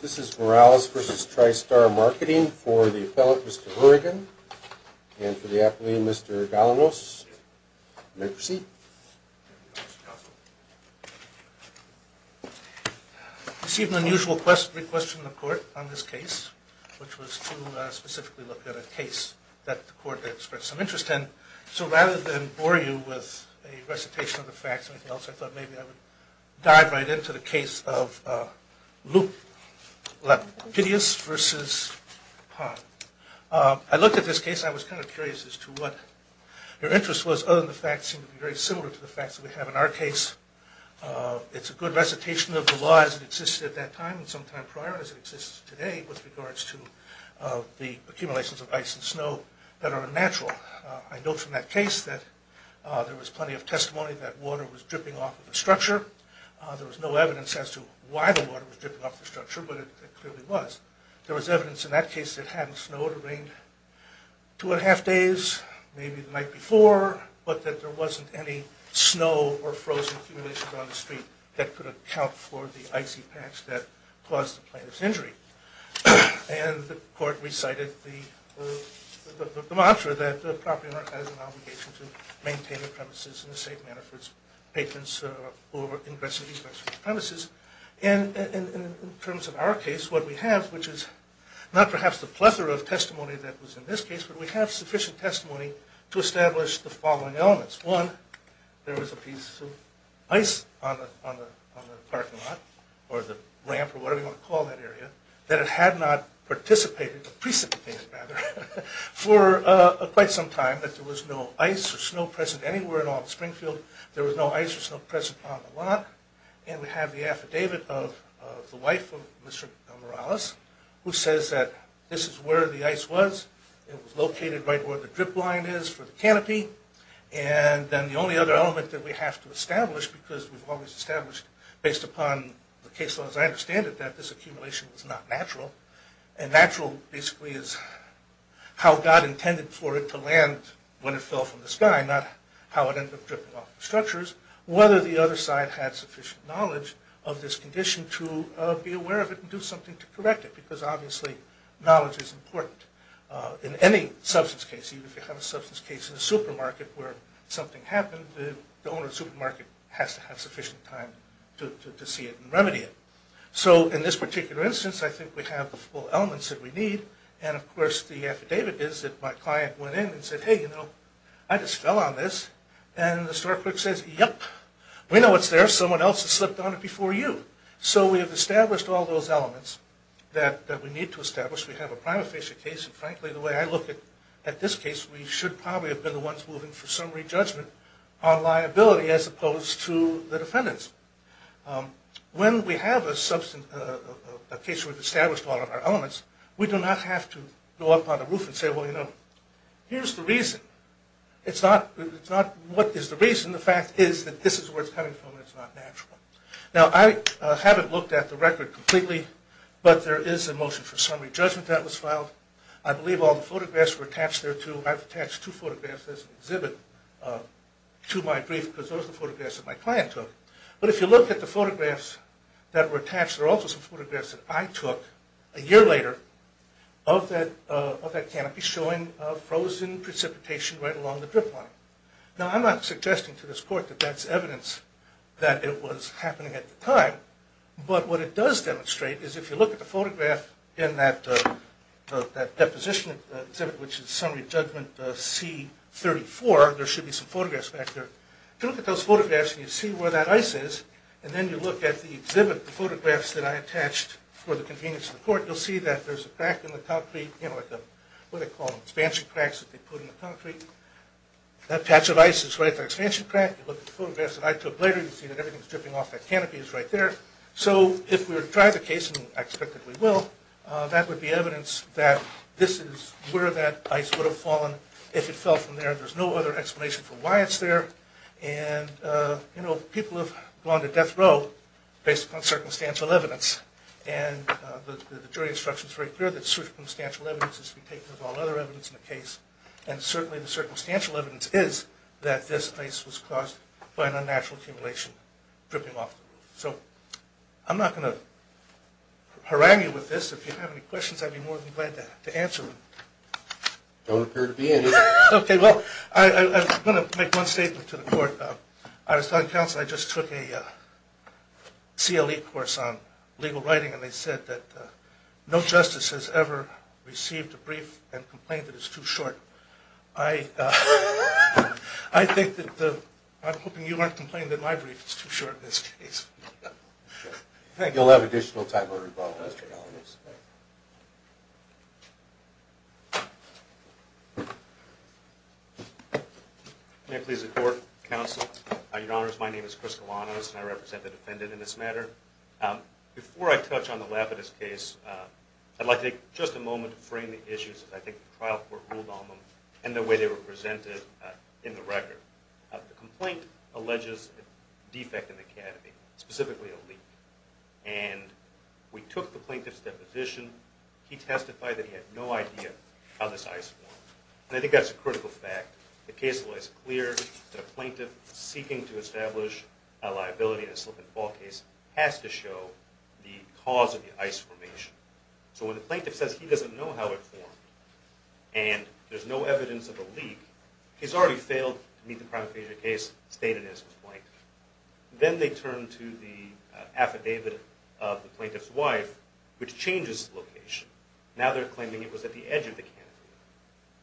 This is Morales v. Tri Star Marketing for the appellant, Mr. Burrigan, and for the appellee, Mr. Galanos. You may proceed. I received an unusual request from the court on this case, which was to specifically look at a case that the So rather than bore you with a recitation of the facts or anything else, I thought maybe I would dive right into the case of Lupidius v. Ha. I looked at this case, I was kind of curious as to what your interest was, other than the facts seem to be very similar to the facts that we have in our case. It's a good recitation of the law as it existed at that time, and sometime prior as it did, there was evidence in that case of snow that are unnatural. I know from that case that there was plenty of testimony that water was dripping off of the structure. There was no evidence as to why the water was dripping off the structure, but it clearly was. There was evidence in that case that it hadn't snowed or rained two and a half days, maybe the night before, but that there wasn't any snow or frozen accumulations on the street that could account for the icy patch that caused the plaintiff's injury. And the court recited the mantra that the property owner has an obligation to maintain the premises in a safe manner for its patrons who are ingressing these rights to the premises. And in terms of our case, what we have, which is not perhaps the plethora of testimony that was in this case, but we have sufficient testimony to establish the following elements. One, there was a piece of ice on the parking lot or the ramp or whatever you want to call that area that had not precipitated for quite some time, that there was no ice or snow present anywhere at all in Springfield. There was no ice or snow present on the lot. And we have the affidavit of the wife of Mr. Morales, who says that this is where the ice was. It was located right where the drip line is for the canopy. And then the only other element that we have to as I understand it, that this accumulation was not natural. And natural basically is how God intended for it to land when it fell from the sky, not how it ended up dripping off the structures. Whether the other side had sufficient knowledge of this condition to be aware of it and do something to correct it, because obviously knowledge is important. In any substance case, even if you have a substance case in a supermarket where something happened, the owner of the supermarket has to have sufficient time to see it and remedy it. So in this particular instance, I think we have the full elements that we need. And of course the affidavit is that my client went in and said, hey, you know, I just fell on this. And the store clerk says, yep, we know it's there. Someone else has slipped on it before you. So we have established all those elements that we need to establish. We have a prima facie case. And frankly the way I look at this case, we should probably have been the ones moving for summary judgment on liability as opposed to the defendants. When we have a case where we've established all of our elements, we do not have to go up on the roof and say, well, you know, here's the reason. It's not what is the reason. The fact is that this is where it's coming from and it's not natural. Now I haven't looked at the record completely, but there is a motion for summary judgment that was filed. I believe all the photographs were attached there too. I've attached two photographs as an exhibit to my brief because those are the photographs that my client took. But if you look at the photographs that were attached, there are also some photographs that I took a year later of that canopy showing frozen precipitation right along the ice happening at the time. But what it does demonstrate is if you look at the photograph in that deposition exhibit, which is summary judgment C-34, there should be some photographs back there. If you look at those photographs and you see where that ice is, and then you look at the exhibit, the photographs that I attached for the convenience of the court, you'll see that there's a crack in the concrete, you know, what they call expansion cracks that they put in the concrete. That patch of ice is right at the expansion crack. You look at the photographs that I took later, you see that ice dripping off that canopy is right there. So if we were to try the case, and I expect that we will, that would be evidence that this is where that ice would have fallen if it fell from there. There's no other explanation for why it's there. And, you know, people have gone to death row based upon circumstantial evidence. And the jury instruction is very clear that circumstantial evidence is to be taken as all other evidence in the case. And that this place was caused by an unnatural accumulation dripping off the roof. So I'm not going to harangue you with this. If you have any questions, I'd be more than glad to answer them. Don't appear to be any. Okay, well, I'm going to make one statement to the court. I was telling counsel, I just took a CLE course on legal writing, and they said that no I'm hoping you won't complain that my brief is too short in this case. You'll have additional time to report on this, Your Honor. May I please report, counsel? Your Honor, my name is Chris Galanos, and I represent the defendant in this matter. Before I touch on the Lapidus case, I'd like to take just a moment to frame the issues, as I think the trial court ruled on them, and the way they were presented in the record. The complaint alleges a defect in the academy, specifically a leak. And we took the plaintiff's deposition. He testified that he had no idea how this ice formed. And I think that's a critical fact. The case law is clear that a plaintiff seeking to establish a liability in a slip-and-fall case has to show the cause of the ice formation. So when the plaintiff says he doesn't know how it formed, and there's no evidence of a leak, he's already failed to meet the crime of aphasia case stated in his complaint. Then they turn to the affidavit of the plaintiff's wife, which changes the location. Now they're claiming it was at the edge of the canopy.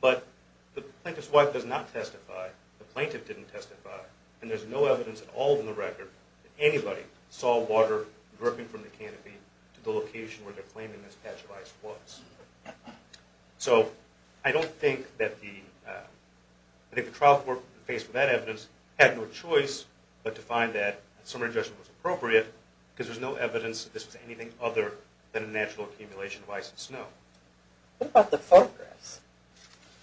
But the plaintiff's wife does not testify, the plaintiff didn't testify, and there's no evidence at all in the record that anybody saw water dripping from the canopy to the location where they're claiming this patch of ice was. So I don't think that the trial court faced with that evidence had no choice but to find that a summary judgment was appropriate, because there's no evidence that this was anything other than a natural accumulation of ice and snow. What about the photographs?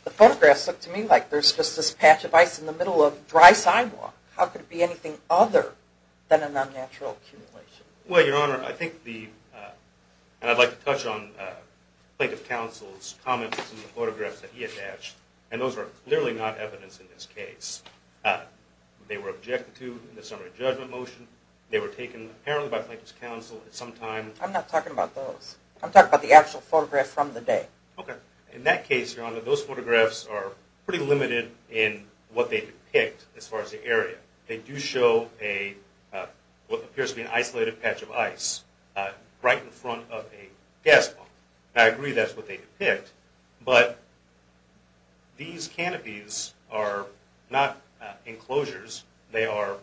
The photographs look to me like there's just this patch of ice in the middle of dry sidewalk. How could it be anything other than an unnatural accumulation? Well, Your Honor, I think the, and I'd like to touch on Plaintiff Counsel's comments in the photographs that he attached, and those are clearly not evidence in this case. They were objected to in the summary judgment motion, they were taken apparently by Plaintiff's Counsel at some time. I'm not talking about those. I'm talking about the actual photographs from the day. Okay. In that case, Your Honor, those photographs are pretty limited in what they depict as far as the area. They do show a, what appears to be an isolated patch of ice right in front of a gas pump. I agree that's what they depict, but these canopies are not enclosures. They are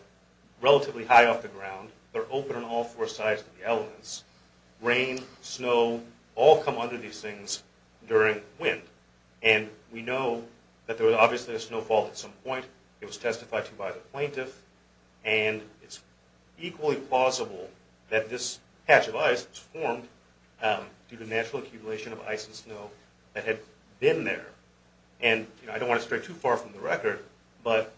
during wind, and we know that there was obviously a snowfall at some point. It was testified to by the plaintiff, and it's equally plausible that this patch of ice was formed due to natural accumulation of ice and snow that had been there. And I don't want to stray too far from the record, but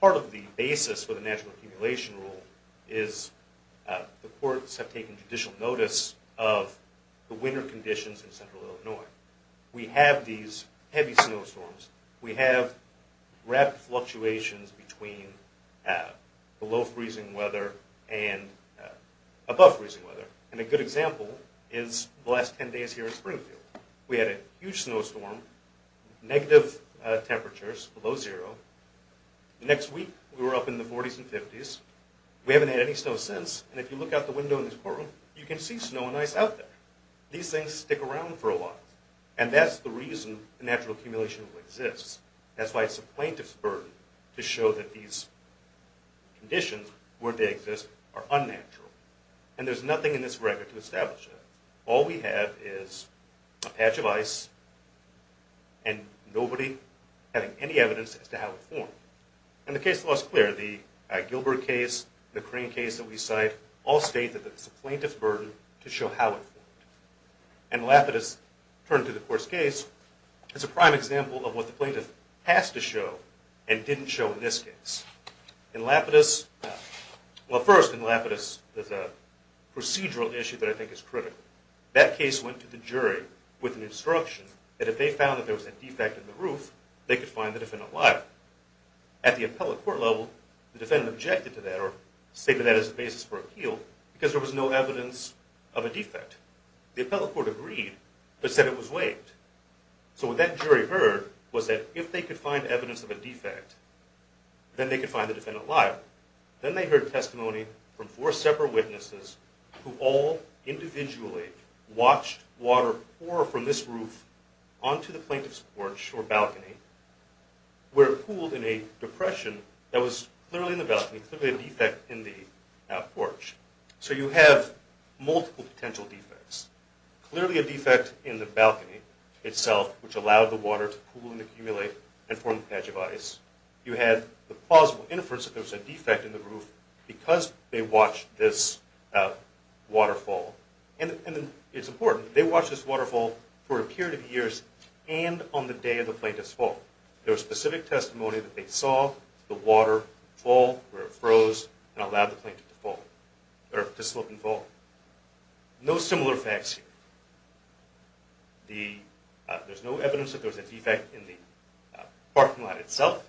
part of the basis for the natural accumulation rule is the courts have taken judicial notice of the winter conditions in central Illinois. We have these heavy snowstorms. We have rapid fluctuations between below freezing weather and above freezing weather, and a good example is the last 10 days here at Springfield. We had a huge snowstorm, negative temperatures below zero. The next week we were up in the And that's the reason the natural accumulation rule exists. That's why it's the plaintiff's burden to show that these conditions, where they exist, are unnatural. And there's nothing in this record to establish that. All we have is a patch of ice and nobody having any evidence as to how it formed. And the case law is clear. The Gilbert case, the Crane case that we cite all state that it's the plaintiff's burden to show how it formed. And Lapidus turned to the court's case as a prime example of what the plaintiff has to show and didn't show in this case. In Lapidus, well first in Lapidus, there's a procedural issue that I think is critical. That case went to the jury with an instruction that if they found that there was a defect in the roof, they could find the defendant liable. At the appellate court level, the defendant objected to that or stated that as a basis for appeal because there was no evidence of a defect. The appellate court agreed but said it was waived. So what that jury heard was that if they could find evidence of a defect, then they could find the defendant liable. Then they heard testimony from four separate witnesses who all individually watched water pour from this roof onto the plaintiff's porch or balcony where it pooled in a depression that was clearly in the balcony, clearly a defect in the porch. So you have multiple potential defects. Clearly a defect in the balcony itself which allowed the water to pool and accumulate and form a patch of ice. You had the plausible inference that there was a defect in the roof because they watched this waterfall. And it's important, they watched this waterfall for a period of years and on the day of the plaintiff's fall. There was specific testimony that they saw the water fall where it froze and allowed the plaintiff to slip and fall. No similar facts here. There's no evidence that there was a defect in the parking lot itself,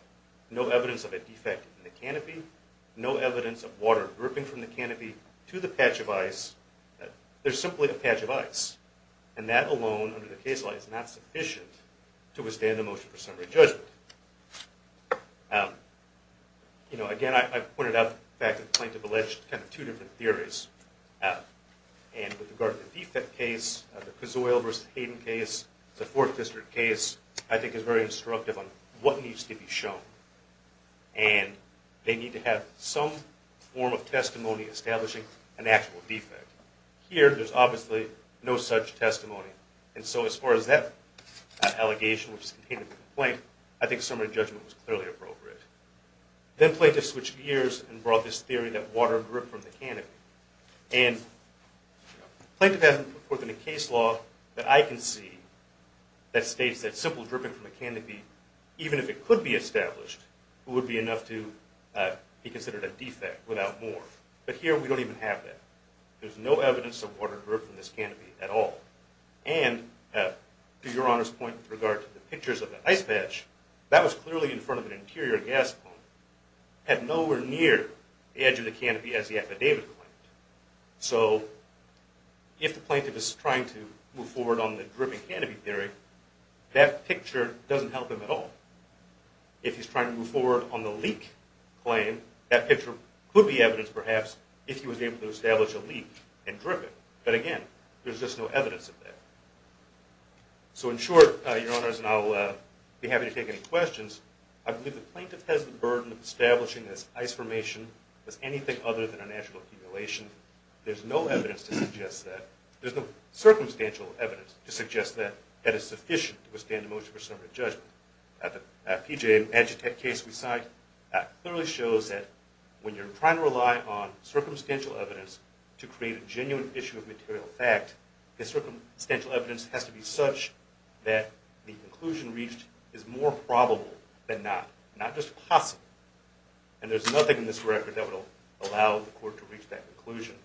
no evidence of a defect in the canopy, no evidence of water dripping from the canopy to the patch of ice. There's simply a patch of ice. And that alone under the case law is not sufficient to withstand a motion for summary judgment. Again, I pointed out the fact that the plaintiff alleged two different theories. And with regard to the defect case, the Cazuel v. Hayden case, the Fourth District case, I think is very instructive on what needs to be shown. And they need to have some form of testimony establishing an actual defect. Here, there's obviously no such testimony. And so as far as that allegation which is contained in the complaint, I think summary judgment was clearly appropriate. Then plaintiff switched gears and brought this theory that water dripped from the canopy. And the plaintiff hasn't put forth in the case law that I can see that states that simple dripping from the canopy, even if it could be established, would be enough to be considered a defect without more. But here we don't even have that. There's no evidence of water dripping from this canopy at all. And to Your Honor's point with regard to the pictures of the ice patch, that was clearly in front of an interior gas pump, had nowhere near the edge of the canopy as the affidavit claimed. So if the plaintiff is trying to move forward on the dripping canopy theory, that picture doesn't help him at all. If he's trying to move forward on the leak claim, that picture could be evidence perhaps if he was able to establish a leak and drip it. But again, there's just no evidence of that. So in short, Your Honors, and I'll be happy to take any questions, I believe the plaintiff has the burden of establishing this ice formation as anything other than a natural accumulation. There's no evidence to suggest that, there's no circumstantial evidence to suggest that that is sufficient to withstand the most presumptive judgment. The PGA case we cite clearly shows that when you're trying to rely on circumstantial evidence to create a genuine issue of material fact, the circumstantial evidence has to be such that the conclusion reached is more probable than not. Not just possible. And there's nothing in this record that will allow the court to reach that conclusion.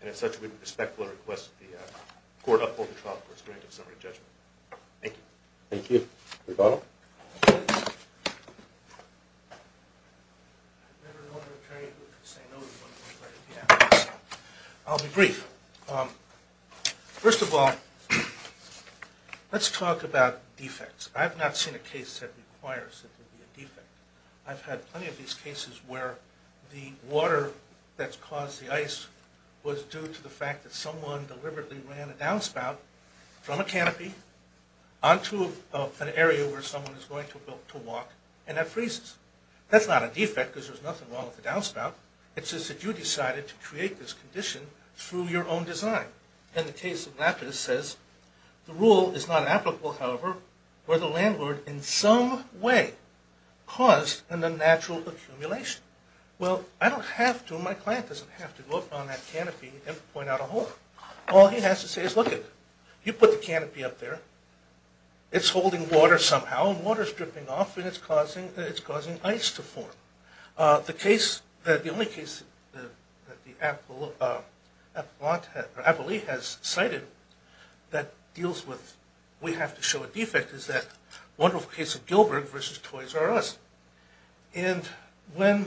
And as such, we would respectfully request the court uphold the trial for its granted summary judgment. Thank you. Thank you. Rebaul? I've never known an attorney who could say no to one of these questions. I'll be brief. First of all, let's talk about defects. I've not seen a case that requires that there be a defect. I've had plenty of these cases where the water that's caused the ice was due to the fact that someone deliberately ran a downspout from a canopy onto an area where someone is going to walk and that freezes. That's not a defect because there's nothing wrong with the downspout. It's just that you decided to create this condition through your own design. And the case of Lapidus says the rule is not applicable, however, where the landlord in some way caused an unnatural accumulation. Well, I don't have to. My client doesn't have to go up on that canopy and point out a hole. All he has to say is look at it. You put the canopy up there. It's holding water somehow, and water is dripping off, and it's causing ice to form. The only case that the appellee has cited that deals with we have to show a defect is that wonderful case of Gilbert versus Toys R Us. And I've made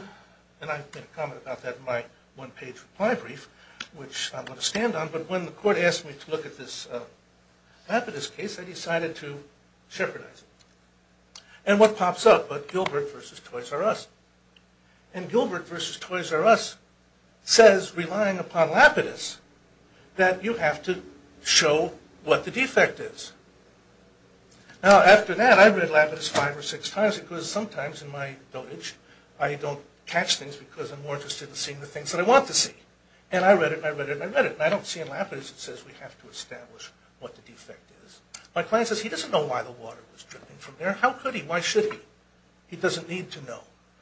a comment about that in my one-page reply brief, which I'm going to stand on. But when the court asked me to look at this Lapidus case, I decided to shepherd it. And what pops up? Gilbert versus Toys R Us. And Gilbert versus Toys R Us says, relying upon Lapidus, that you have to show what the defect is. Now, after that, I read Lapidus five or six times because sometimes in my dotage I don't catch things because I'm more interested in seeing the things that I want to see. And I read it, and I read it, and I read it. And I don't see in Lapidus it says we have to establish what the defect is. My client says he doesn't know why the water was dripping from there. How could he? Why should he? He doesn't need to know.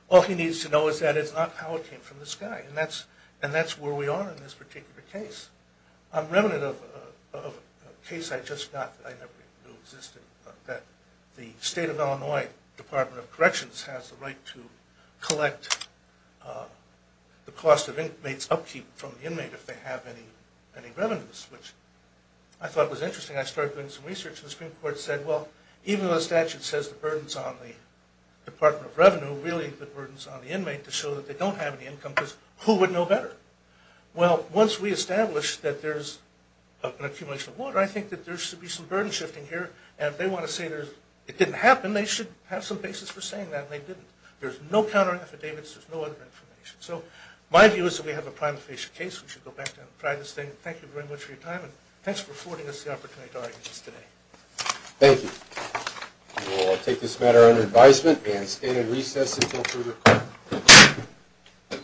All he needs to know is that it's not how it came from the sky. And that's where we are in this particular case. I'm remnant of a case I just got that I never even knew existed, that the state of Illinois Department of Corrections has the right to collect the cost of inmates' upkeep from the inmate if they have any revenues, which I thought was interesting. I started doing some research, and the Supreme Court said, well, even though the statute says the burden's on the Department of Revenue, really the burden's on the inmate to show that they don't have any income because who would know better? Well, once we establish that there's an accumulation of water, I think that there should be some burden shifting here. And if they want to say it didn't happen, they should have some basis for saying that they didn't. There's no counter-affidavits. There's no other information. So my view is that we have a prima facie case. We should go back down and try this thing. Thank you very much for your time, and thanks for affording us the opportunity to argue this today. Thank you. We will take this matter under advisement and stand in recess until further call.